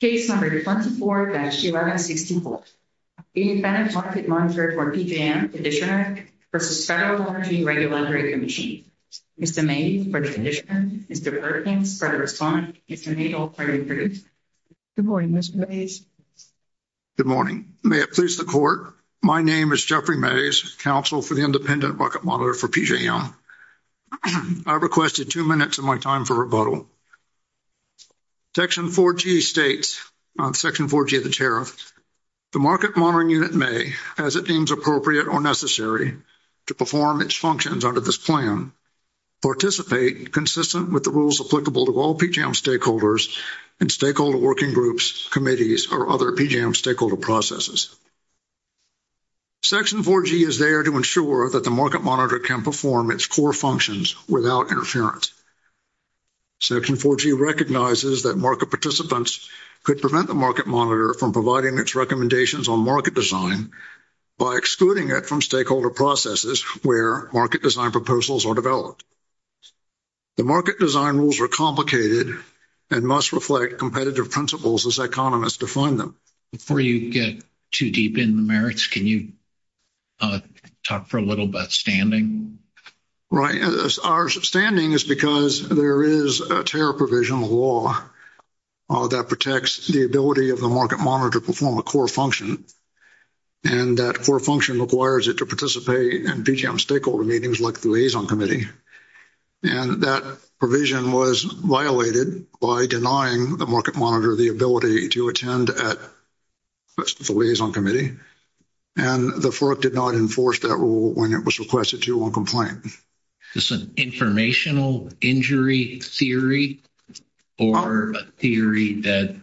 Case number 24-1164, Independent Market Monitor for PJM conditioner versus Federal Energy Regulatory Commission. Mr. May, for the conditioner. Mr. Perkins, for the respondent. Mr. May, all parties approved. Good morning, Mr. Mays. Good morning. May it please the court. My name is Jeffrey Mays, counsel for the Independent Market Monitor for PJM. I requested two minutes of my time for rebuttal. Section 4G states, Section 4G of the tariff, the market monitoring unit may, as it deems appropriate or necessary to perform its functions under this plan, participate consistent with the rules applicable to all PJM stakeholders and stakeholder working groups, committees, or other PJM stakeholder processes. Section 4G is there to ensure that the market monitor can perform its core functions without interference. Section 4G recognizes that market participants could prevent the market monitor from providing its recommendations on market design by excluding it from stakeholder processes where market design proposals are developed. The market design rules are complicated and must reflect competitive principles as economists define them. Before you get too deep in the merits, can you talk for a little about standing? Right. Our standing is because there is a tariff provision law that protects the ability of the market monitor to perform a core function. And that core function requires it to participate in PJM stakeholder meetings like the liaison committee. And that provision was violated by denying the market monitor the ability to attend at the liaison committee. And the FERC did not enforce that rule when it was requested to on complaint. Is this an informational injury theory or a theory that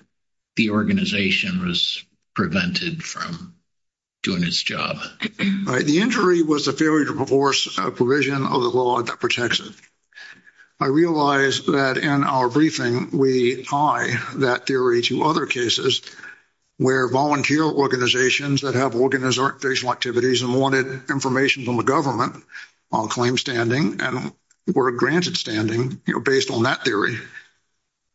the organization was prevented from doing its job? The injury was a failure to enforce a provision of the law that protects it. I realized that in our briefing, we tie that theory to other cases where volunteer organizations that have organizational activities and wanted information from the government on claim standing and were granted standing based on that theory.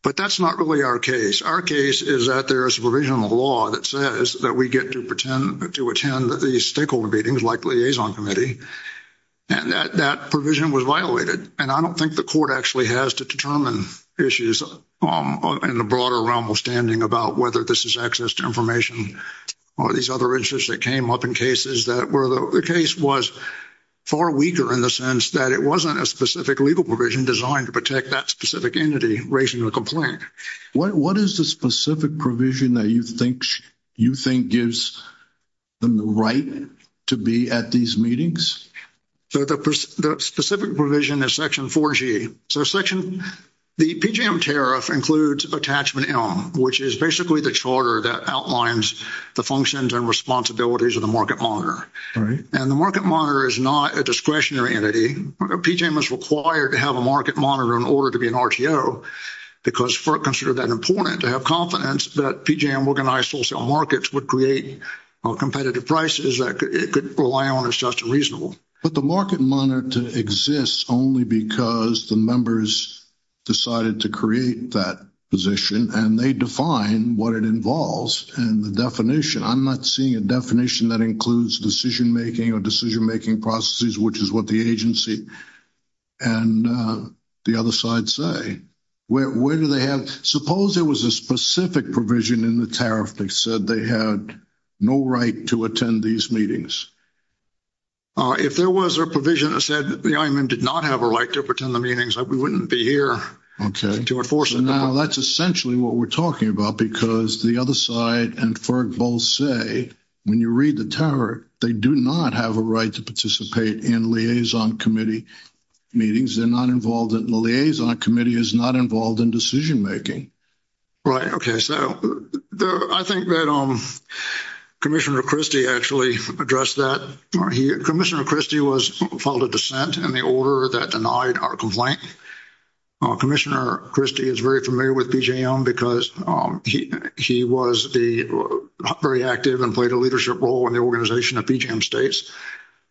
But that's not really our case. Our case is that there is a provision of the law that says that we get to attend these stakeholder meetings like the liaison committee. And that provision was violated. And I don't think the court actually has to determine issues in the broader realm of standing about whether this is access to information or these other issues that came up in cases that were – the case was far weaker in the sense that it wasn't a specific legal provision designed to protect that specific entity. What is the specific provision that you think gives them the right to be at these meetings? So, the specific provision is section 4G. So, section – the PJM tariff includes attachment M, which is basically the charter that outlines the functions and responsibilities of the market monitor. And the market monitor is not a discretionary entity. PJM is required to have a market monitor in order to be an RTO because it's considered that important to have confidence that PJM organized wholesale markets would create competitive prices that it could rely on as just and reasonable. But the market monitor exists only because the members decided to create that position and they define what it involves and the definition. I'm not seeing a definition that includes decision-making or decision-making processes, which is what the agency and the other side say. Where do they have – suppose there was a specific provision in the tariff that said they had no right to attend these meetings. If there was a provision that said the IMM did not have a right to attend the meetings, we wouldn't be here to enforce it. Okay. Now, that's essentially what we're talking about because the other side and FERG both say when you read the tariff, they do not have a right to participate in liaison committee meetings. They're not involved in – the liaison committee is not involved in decision-making. Right. Okay. So, I think that Commissioner Christie actually addressed that. Commissioner Christie was filed a dissent in the order that denied our complaint. Commissioner Christie is very familiar with PJM because he was very active and played a leadership role in the organization of PJM States.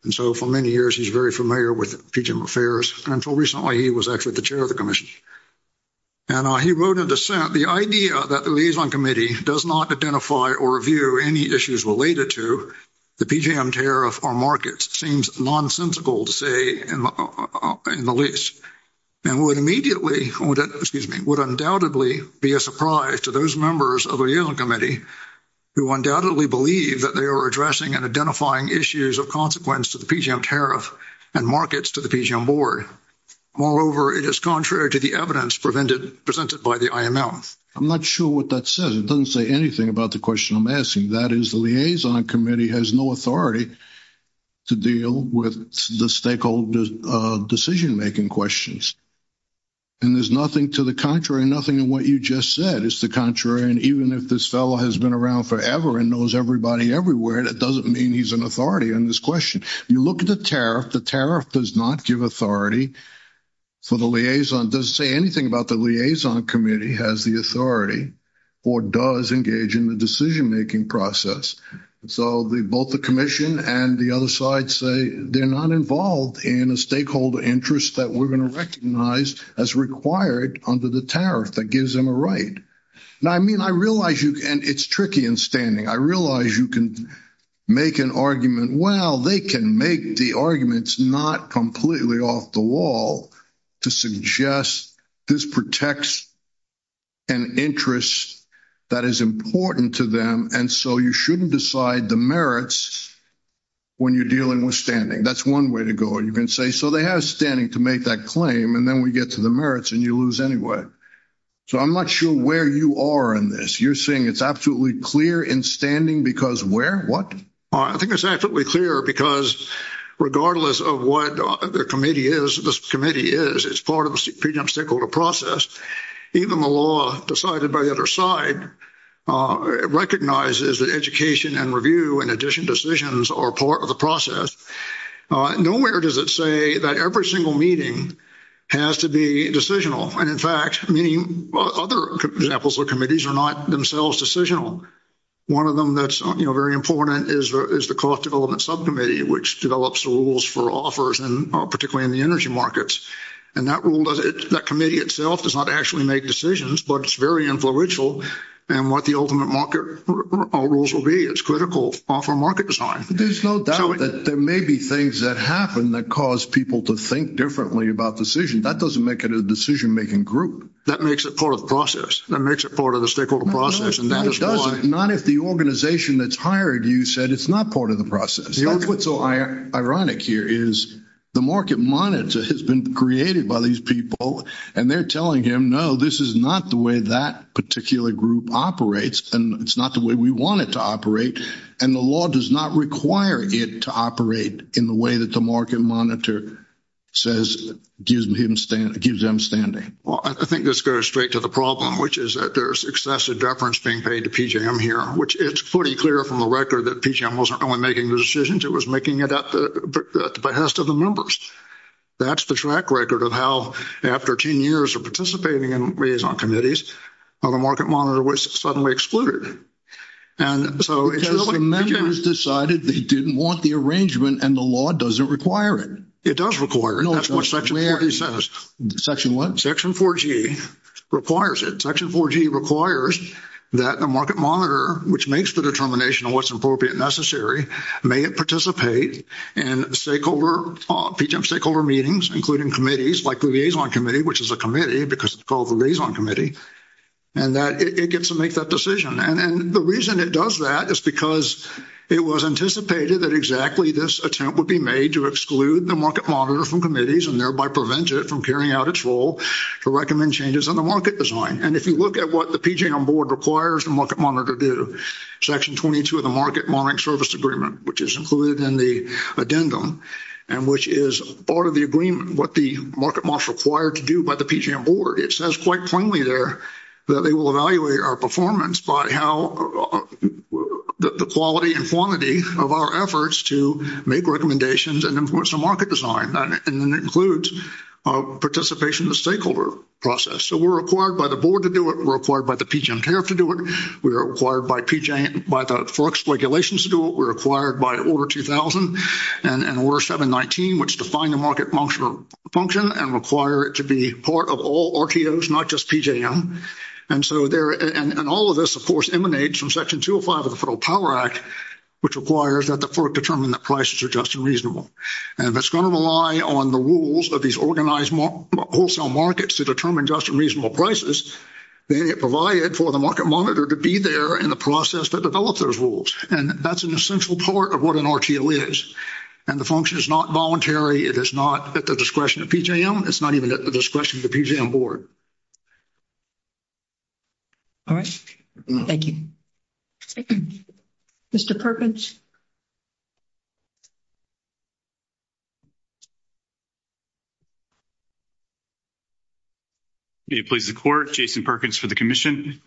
And so, for many years, he's very familiar with PJM Affairs. Until recently, he was actually the chair of the commission. And he wrote a dissent. The idea that the liaison committee does not identify or review any issues related to the PJM tariff or markets seems nonsensical to say in the least. And would immediately – excuse me – would undoubtedly be a surprise to those members of the liaison committee who undoubtedly believe that they are addressing and identifying issues of consequence to the PJM tariff and markets to the PJM board. Moreover, it is contrary to the evidence presented by the IML. I'm not sure what that says. It doesn't say anything about the question I'm asking. That is, the liaison committee has no authority to deal with the stakeholder decision-making questions. And there's nothing to the contrary – nothing in what you just said is the contrary. And even if this fellow has been around forever and knows everybody everywhere, that doesn't mean he's an authority on this question. You look at the tariff. The tariff does not give authority for the liaison – doesn't say anything about the liaison committee has the authority or does engage in the decision-making process. So, both the commission and the other side say they're not involved in a stakeholder interest that we're going to recognize as required under the tariff that gives them a right. Now, I mean, I realize you – and it's tricky in standing. I realize you can make an argument. Well, they can make the arguments not completely off the wall to suggest this protects an interest that is important to them, and so you shouldn't decide the merits when you're dealing with standing. That's one way to go. You can say, so they have standing to make that claim, and then we get to the merits, and you lose anyway. So, I'm not sure where you are in this. You're saying it's absolutely clear in standing because where? What? I think it's absolutely clear because regardless of what the committee is, this committee is, it's part of the pre-jump stakeholder process. Even the law decided by the other side recognizes that education and review and addition decisions are part of the process. Nowhere does it say that every single meeting has to be decisional, and in fact, many other examples of committees are not themselves decisional. One of them that's very important is the cost development subcommittee, which develops the rules for offers and particularly in the energy markets. And that rule does – that committee itself does not actually make decisions, but it's very influential in what the ultimate market rules will be. It's critical for market design. There's no doubt that there may be things that happen that cause people to think differently about decisions. That doesn't make it a decision-making group. That makes it part of the process. That makes it part of the stakeholder process. No, it doesn't, not if the organization that's hired you said it's not part of the process. That's what's so ironic here is the market monitor has been created by these people, and they're telling him, no, this is not the way that particular group operates, and it's not the way we want it to operate, and the law does not require it to operate in the way that the market monitor says gives him standing. Well, I think this goes straight to the problem, which is that there's excessive deference being paid to PJM here, which it's pretty clear from the record that PJM wasn't only making the decisions. It was making it at the behest of the members. That's the track record of how, after 10 years of participating in liaison committees, how the market monitor was suddenly excluded. Because the members decided they didn't want the arrangement, and the law doesn't require it. It does require it. That's what Section 4G says. Section what? Section 4G requires it. Section 4G requires that the market monitor, which makes the determination of what's appropriate and necessary, may participate in PJM stakeholder meetings, including committees like the liaison committee, which is a committee because it's called the liaison committee, and that it gets to make that decision. And the reason it does that is because it was anticipated that exactly this attempt would be made to exclude the market monitor from committees and thereby prevent it from carrying out its role to recommend changes in the market design. And if you look at what the PJM board requires the market monitor to do, Section 22 of the Market Monitoring Service Agreement, which is included in the addendum and which is part of the agreement, what the market monitor is required to do by the PJM board, it says quite plainly there that they will evaluate our performance by how the quality and quantity of our efforts to make recommendations and influence the market design, and that includes participation in the stakeholder process. So we're required by the board to do it. We're required by the PJM CAF to do it. We're required by the FERC's regulations to do it. We're required by Order 2000 and Order 719, which define the market function and require it to be part of all RTOs, not just PJM. And all of this, of course, emanates from Section 205 of the Federal Power Act, which requires that the FERC determine that prices are just and reasonable. And if it's going to rely on the rules of these organized wholesale markets to determine just and reasonable prices, then it provided for the market monitor to be there in the process to develop those rules. And that's an essential part of what an RTO is. And the function is not voluntary. It is not at the discretion of PJM. It's not even at the discretion of the PJM board. All right. Thank you. Mr. Perkins? May it please the court, Jason Perkins for the commission.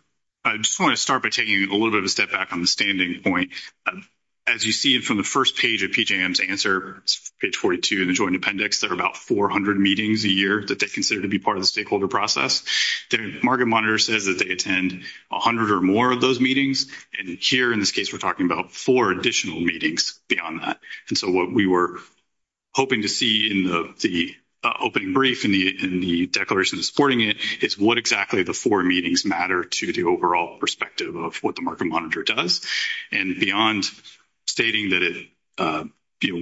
I just want to start by taking a little bit of a step back on the standing point. As you see from the first page of PJM's answer, page 42 in the joint appendix, there are about 400 meetings a year that they consider to be part of the stakeholder process. The market monitor says that they attend 100 or more of those meetings. And here in this case we're talking about four additional meetings beyond that. And so what we were hoping to see in the opening brief in the declaration supporting it is what exactly the four meetings matter to the overall perspective of what the market monitor does. And beyond stating that it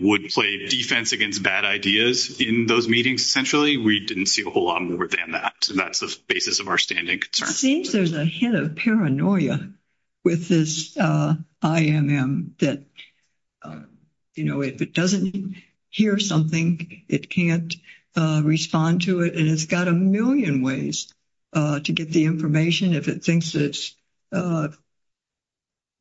would play defense against bad ideas in those meetings, essentially, we didn't see a whole lot more than that. So that's the basis of our standing concern. It seems there's a hit of paranoia with this IMM that, you know, if it doesn't hear something, it can't respond to it. And it's got a million ways to get the information if it thinks it's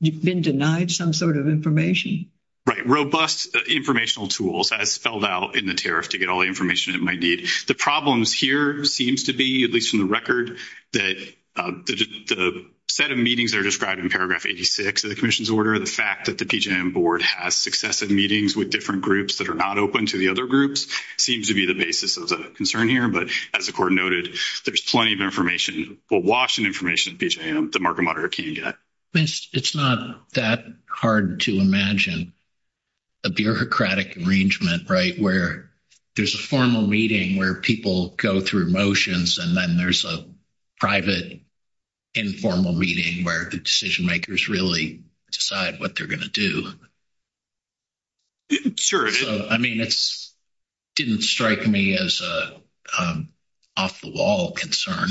been denied some sort of information. Right. Robust informational tools, as spelled out in the tariff to get all the information it might need. The problems here seems to be, at least from the record, that the set of meetings that are described in paragraph 86 of the commission's order, the fact that the PJM board has successive meetings with different groups that are not open to the other groups, seems to be the basis of the concern here. But as the court noted, there's plenty of information, well, Washington information that the market monitor can't get. It's not that hard to imagine a bureaucratic arrangement, right, where there's a formal meeting where people go through motions, and then there's a private informal meeting where the decision makers really decide what they're going to do. Sure. I mean, it didn't strike me as an off-the-wall concern.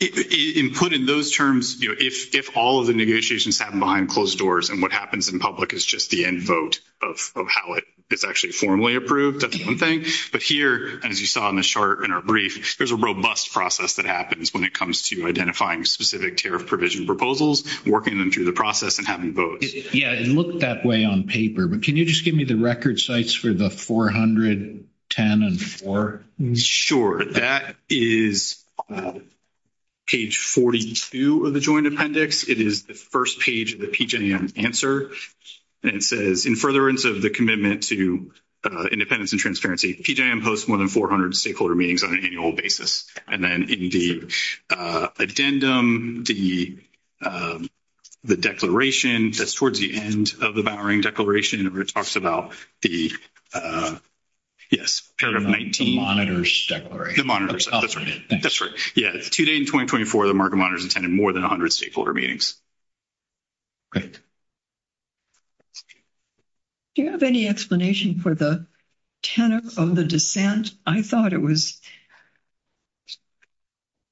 In putting those terms, if all of the negotiations happen behind closed doors and what happens in public is just the end vote of how it's actually formally approved, that's one thing. But here, as you saw in the chart in our brief, there's a robust process that happens when it comes to identifying specific tariff provision proposals, working them through the process, and having votes. Yeah, it looked that way on paper. But can you just give me the record sites for the 410 and 4? Sure. That is page 42 of the joint appendix. It is the first page of the PJM answer, and it says, in furtherance of the commitment to independence and transparency, PJM hosts more than 400 stakeholder meetings on an annual basis. And then in the addendum, the declaration, that's towards the end of the Bowering Declaration, talks about the, yes, Paragraph 19. The monitors declaration. The monitors, that's right. That's right. Yeah, today in 2024, the market monitors attended more than 100 stakeholder meetings. Great. Do you have any explanation for the tenet of the dissent? I thought it was,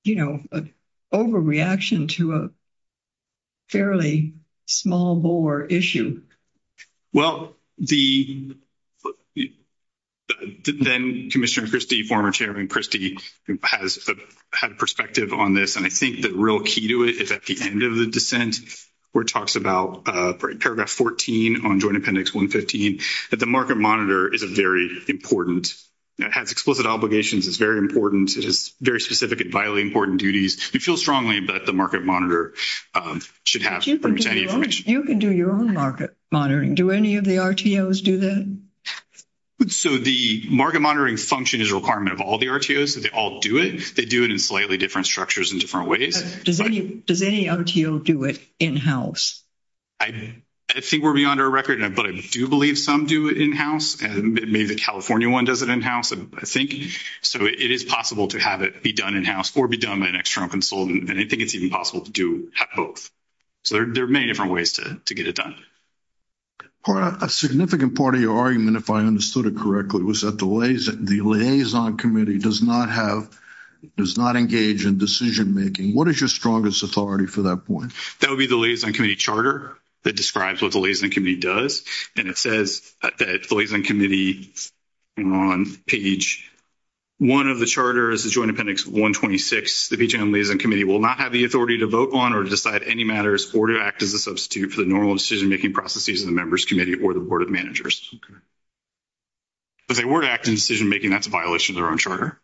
you know, an overreaction to a fairly small Bower issue. Well, the then Commissioner Christie, former Chairman Christie, has had perspective on this, and I think the real key to it is at the end of the dissent, where it talks about Paragraph 14 on Joint Appendix 115, that the market monitor is a very important, has explicit obligations, is very important, it is very specific and vitally important duties. We feel strongly that the market monitor should have any information. You can do your own market monitoring. Do any of the RTOs do that? So the market monitoring function is a requirement of all the RTOs. They all do it. They do it in slightly different structures and different ways. Does any RTO do it in-house? I think we're beyond our record, but I do believe some do it in-house. Maybe the California one does it in-house, I think. So it is possible to have it be done in-house or be done by an external consultant, and I think it's even possible to do both. So there are many different ways to get it done. A significant part of your argument, if I understood it correctly, was that the Liaison Committee does not engage in decision-making. What is your strongest authority for that point? That would be the Liaison Committee charter that describes what the Liaison Committee does, and it says that the Liaison Committee on page 1 of the charter is the Joint Appendix 126. The BGN Liaison Committee will not have the authority to vote on or decide any matters or to act as a substitute for the normal decision-making processes of the Members' Committee or the Board of Managers. If they were to act in decision-making, that's a violation of their own charter.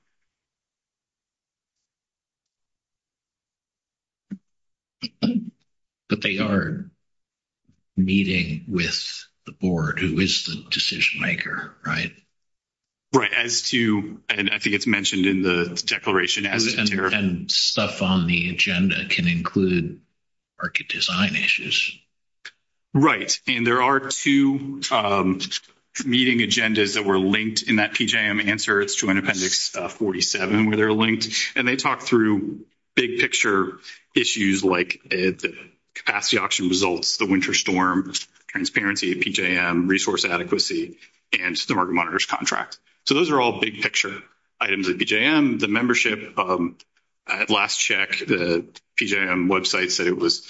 But they are meeting with the Board, who is the decision-maker, right? Right. And I think it's mentioned in the declaration. And stuff on the agenda can include market design issues. Right. And there are two meeting agendas that were linked in that PJM answer. It's Joint Appendix 47 where they're linked, and they talk through big-picture issues like the capacity auction results, the winter storm, transparency, PJM, resource adequacy, and the market monitors contract. So those are all big-picture items at PJM. The membership, last check, the PJM website said it was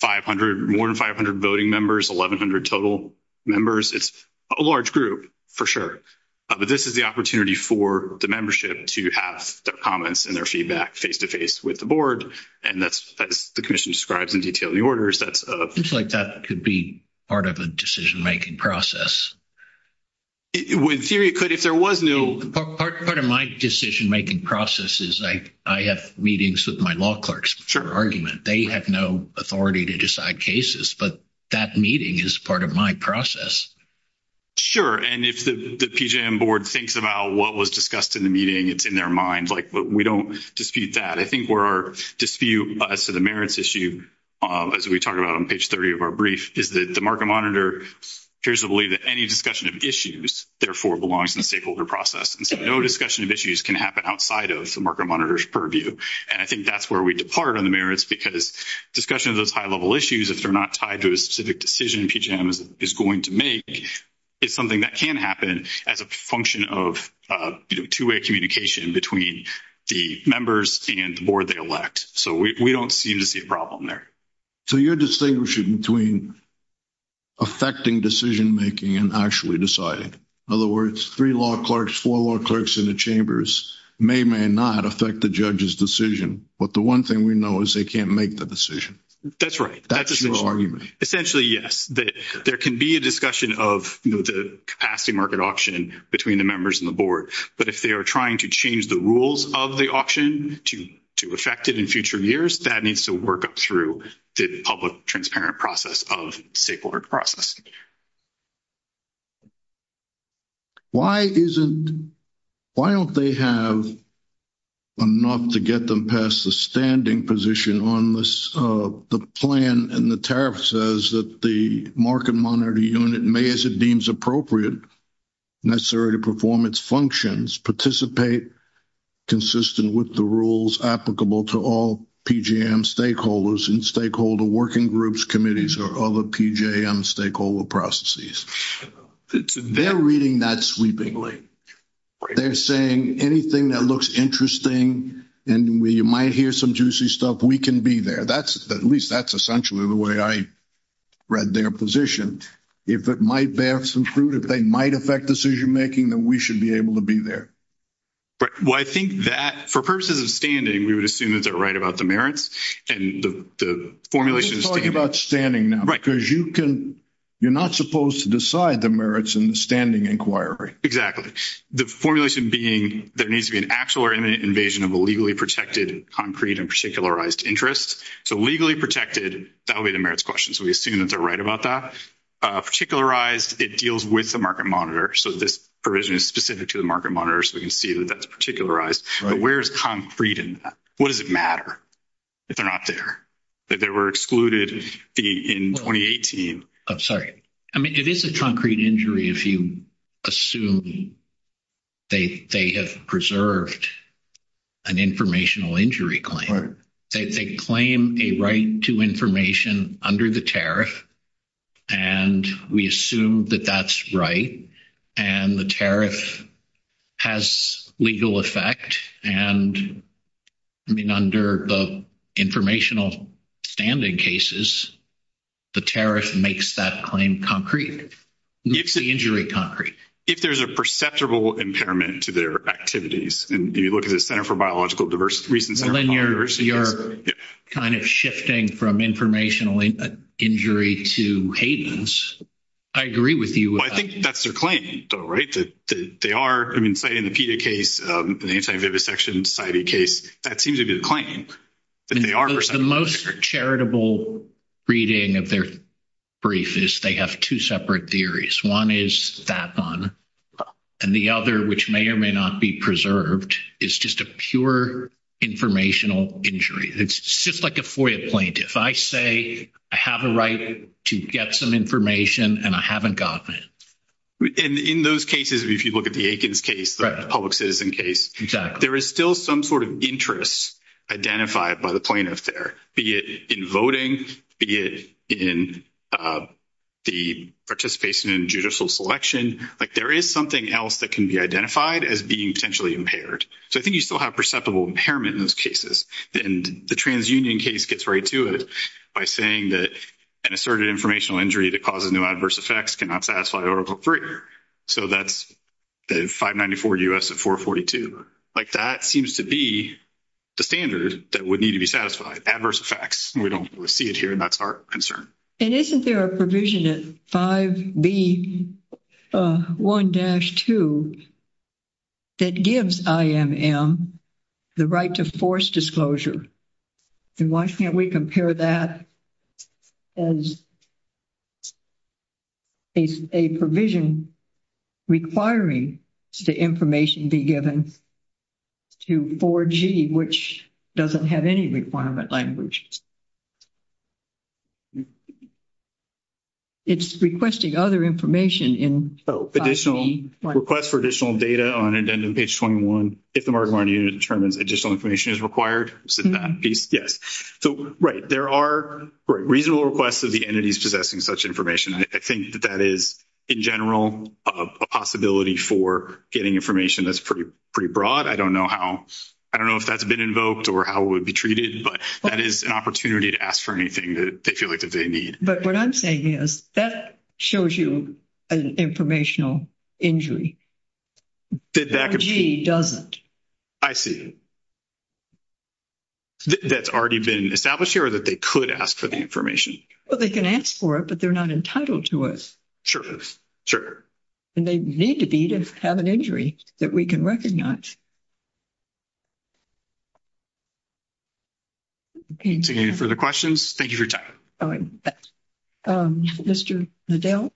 more than 500 voting members, 1,100 total members. It's a large group, for sure. But this is the opportunity for the membership to have their comments and their feedback face-to-face with the Board, and that's as the commission describes in detail in the orders. It seems like that could be part of a decision-making process. In theory, it could. If there was no – Part of my decision-making process is I have meetings with my law clerks for argument. They have no authority to decide cases, but that meeting is part of my process. Sure. And if the PJM Board thinks about what was discussed in the meeting, it's in their mind. Like, we don't dispute that. I think where our dispute as to the merits issue, as we talk about on page 30 of our brief, is that the market monitor appears to believe that any discussion of issues, therefore, belongs in the stakeholder process. And so no discussion of issues can happen outside of the market monitor's purview. And I think that's where we depart on the merits, because discussion of those high-level issues, if they're not tied to a specific decision PJM is going to make, is something that can happen as a function of two-way communication between the members and the Board they elect. So we don't seem to see a problem there. So you're distinguishing between affecting decision-making and actually deciding. In other words, three law clerks, four law clerks in the chambers may or may not affect the judge's decision, but the one thing we know is they can't make the decision. That's right. That's your argument. Essentially, yes. There can be a discussion of the capacity market option between the members and the Board, but if they are trying to change the rules of the auction to affect it in the public transparent process of stakeholder process. Why isn't, why don't they have enough to get them past the standing position on the plan and the tariff says that the market monitor unit may, as it deems appropriate, necessary to perform its functions, participate consistent with the rules applicable to all PJM stakeholders and stakeholder working groups, committees, or other PJM stakeholder processes. They're reading that sweepingly. They're saying anything that looks interesting and we might hear some juicy stuff, we can be there. At least that's essentially the way I read their position. If it might bear some fruit, if they might affect decision-making, then we should be able to be there. Well, I think that for purposes of standing, we would assume that they're right about the merits and the formulations. We're talking about standing now because you can, you're not supposed to decide the merits in the standing inquiry. Exactly. The formulation being there needs to be an actual or imminent invasion of a legally protected concrete and particularized interest. So legally protected, that would be the merits question. So we assume that they're right about that. Particularized, it deals with the market monitor. So this provision is specific to the market monitor. So we can see that that's particularized, but where's concrete in that? What does it matter if they're not there? That they were excluded in 2018. I'm sorry. I mean, it is a concrete injury if you assume they have preserved an informational injury claim. They claim a right to information under the tariff. And we assume that that's right. And the tariff has legal effect. And I mean, under the informational standing cases, the tariff makes that claim concrete. Makes the injury concrete. If there's a perceptible impairment to their activities, and you look at the Center for Biological Diversity, recent Center for Biological Diversity. You're kind of shifting from informational injury to Hayden's. I agree with you. I think that's their claim though, right? That they are, I mean, citing the PETA case, an anti-vivisection society case, that seems to be the claim. That they are. The most charitable reading of their brief is they have two separate theories. One is that one and the other, which may or may not be preserved, is just a pure informational injury. It's just like a FOIA plaintiff. If I say I have a right to get some information and I haven't gotten it. And in those cases, if you look at the Aikens case, the public citizen case, there is still some sort of interest identified by the plaintiff there. Be it in voting, be it in the participation in judicial selection. Like there is something else that can be identified as being potentially impaired. So I think you still have perceptible impairment in those cases. And the transunion case gets right to it by saying that an asserted informational injury that causes no adverse effects cannot satisfy article three. So that's the 594 U.S. of 442. Like that seems to be the standard that would need to be satisfied. Adverse effects. We don't see it here and that's our concern. And isn't there a provision at 5B1-2 that gives IMM the right to force disclosure? And why can't we compare that as a provision requiring the information be given to 4G, which doesn't have any requirement language. It's requesting other information in 5B1. Request for additional data on page 21. If the Mark-Martin unit determines additional information is required, is it that piece? Yes. So, right. There are reasonable requests of the entities possessing such information. I think that that is, in general, a possibility for getting information that's pretty broad. I don't know how, I don't know if that's been invoked or how it would be but that is an opportunity to ask for anything that they feel like that they need. But what I'm saying is that shows you an informational injury. 5G doesn't. I see. That's already been established here or that they could ask for the Well, they can ask for it, but they're not entitled to it. Sure. Sure. And they need to be to have an injury that we can recognize. Any further questions? Thank you for your time. All right. Mr. Nadell.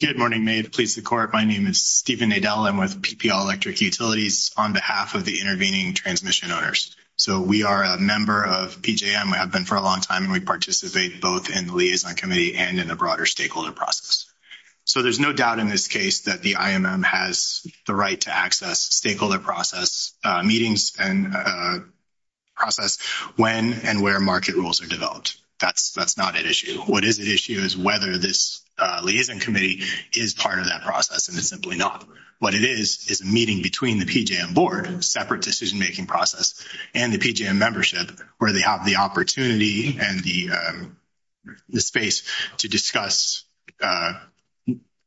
Good morning, may it please the court. My name is Stephen Nadella with PPL electric utilities on behalf of the intervening transmission owners. So we are a member of PJM. I've been for a long time and we participate both in the liaison committee and in a broader stakeholder process. So there's no doubt in this case that the IMM has the right to access stakeholder process meetings and process when and where market rules are That's that's not an issue. What is the issue is whether this liaison committee is part of that process. And it's simply not what it is, is a meeting between the PJM board separate decision-making process and the PJM membership where they have the opportunity and the the space to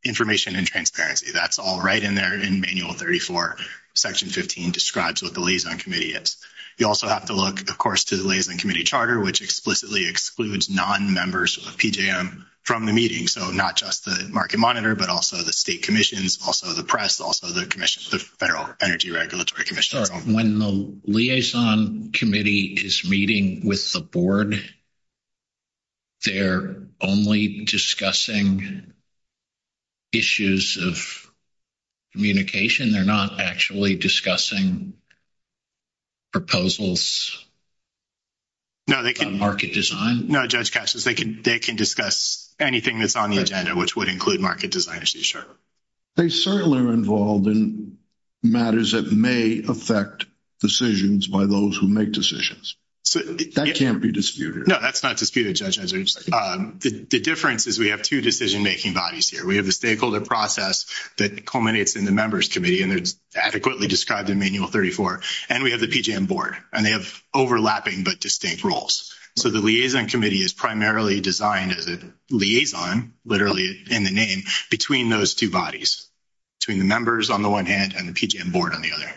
information and transparency. That's all right in there in manual 34, section 15 describes what the liaison committee is. You also have to look, to the liaison committee charter, which explicitly excludes non-members of PJM from the meeting. So not just the market monitor, but also the state commissions, also the press, also the commission, the federal energy regulatory commission. When the liaison committee is meeting with the board, they're only discussing issues of communication. They're not actually discussing proposals. No, they can market design. No judge catches. They can, they can discuss anything that's on the agenda, which would include market design. They certainly are involved in matters that may affect decisions by those who make decisions. So that can't be disputed. that's not disputed judges. The difference is we have two decision-making bodies here. We have the stakeholder process that culminates in the members committee, and there's adequately described in manual 34 and we have the PJM board and they have overlapping, but distinct roles. So the liaison committee is primarily designed as a liaison, literally in the name between those two bodies, between the members on the one hand and the PJM board on the other.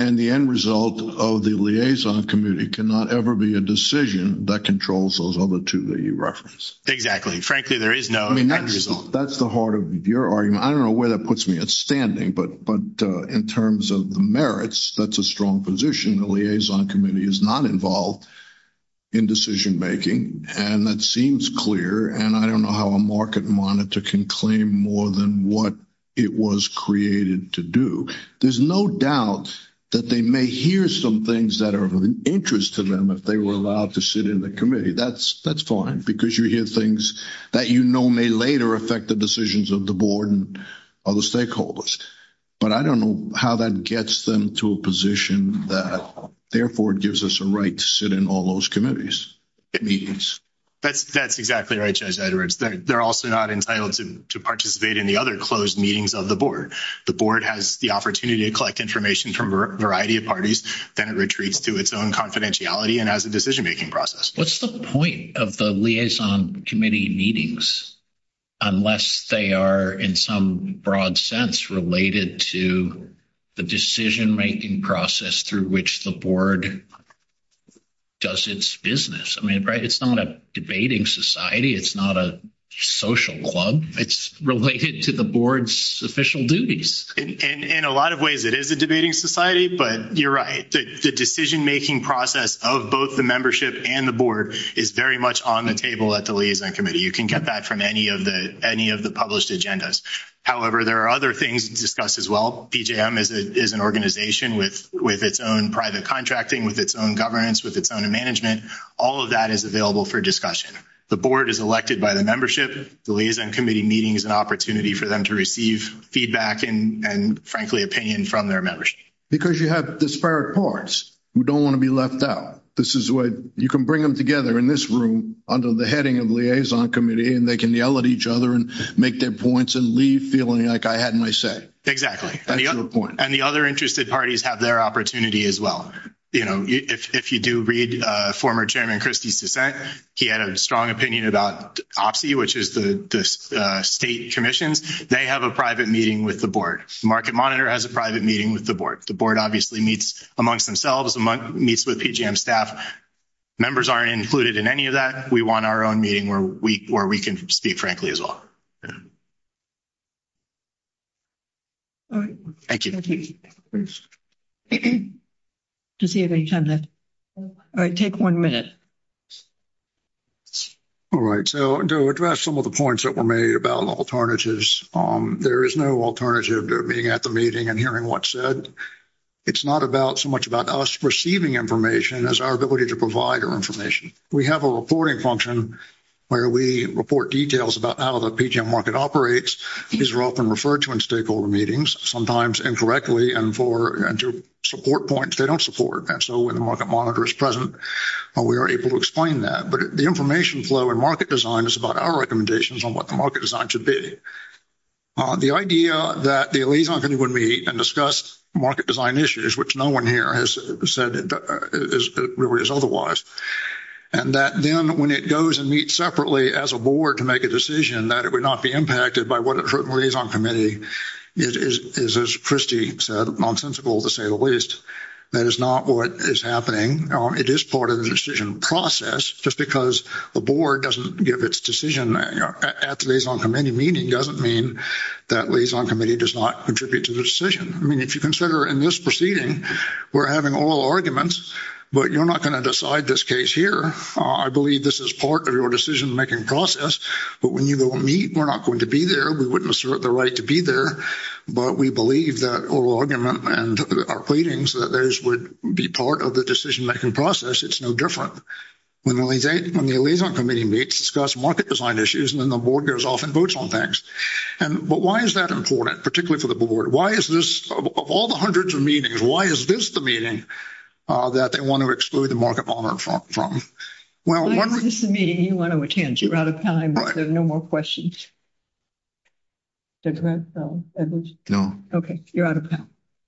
And the end result of the liaison community cannot ever be a decision that controls those other two that you referenced. there is no result. That's the heart of your argument. I don't know where that puts me at standing, but in terms of the merits, that's a strong position. The liaison committee is not involved in decision-making and that seems clear. And I don't know how a market monitor can claim more than what it was created to do. There's no doubt that they may hear some things that are of interest to them. If they were allowed to sit in the committee, that's, that's fine because you hear things that, you know, may later affect the decisions of the board and other stakeholders. But I don't know how that gets them to a position that therefore it gives us a right to sit in all those committees. That's exactly right. They're also not entitled to participate in the other closed meetings of the board. The board has the opportunity to collect information from a variety of parties. Then it retreats to its own confidentiality and as a decision-making process. What's the point of the liaison committee meetings, unless they are in some broad sense related to the decision-making process through which the board does its business. I mean, right. It's not a debating society. It's not a social club. It's related to the board's official duties in a lot of ways. It is a debating society, but you're right. The decision-making process of both the membership and the board is very much on the table at the liaison committee. You can get that from any of the, any of the published agendas. However, there are other things discussed as well. PJM is a, is an organization with, with its own private contracting, with its own governance, with its own management. All of that is available for discussion. The board is elected by the membership. The liaison committee meeting is an opportunity for them to receive feedback and, and frankly, opinion from their membership. Because you have disparate parts who don't want to be left out. This is what you can bring them together in this room under the heading of liaison committee, and they can yell at each other and make their points and leave feeling like I had my say. Exactly. And the other interested parties have their opportunity as well. You know, if you do read a former chairman Christie's dissent, he had a strong opinion about OPSI, which is the state commissions. They have a private meeting with the board. Market monitor has a private meeting with the board. The board obviously meets amongst themselves a month meets with PJM staff. Members aren't included in any of that. We want our own meeting where we, where we can speak frankly as well. All right. Thank you. Does he have any time left? All right. Take one minute. All right. So to address some of the points that were made about alternatives, there is no alternative to being at the meeting and hearing what said. It's not about so much about us receiving information as our ability to provide our information. We have a reporting function where we report details about how the PJM market operates. These are often referred to in stakeholder meetings, sometimes incorrectly and for support points they don't support. And so when the market monitor is present, we are able to explain that, but the information flow and market design is about our recommendations on what the market design should be. The idea that the liaison committee would meet and discuss market design issues, which no one here has said is otherwise. And that then when it goes and meet separately as a board to make a decision that it would not be impacted by what it is on committee is, is as Christie said, nonsensical to say the least. That is not what is happening. It is part of the decision process. Just because the board doesn't give its decision at liaison committee meeting doesn't mean that liaison committee does not contribute to the decision. I mean, if you consider in this proceeding, we're having oral arguments, but you're not going to decide this case here. I believe this is part of your decision making process, but when you go meet, we're not going to be there. We wouldn't assert the right to be there, but we believe that oral argument and our pleadings, that those would be part of the decision making process. It's no different. When the liaison committee meets, discuss market design issues, and then the board goes off and votes on things. And, but why is that important particularly for the board? Why is this of all the hundreds of meetings? Why is this the meeting that they want to exclude the market from? Well, this is a meeting you want to attend. You're out of time. There's no more questions. Okay. You're out of time.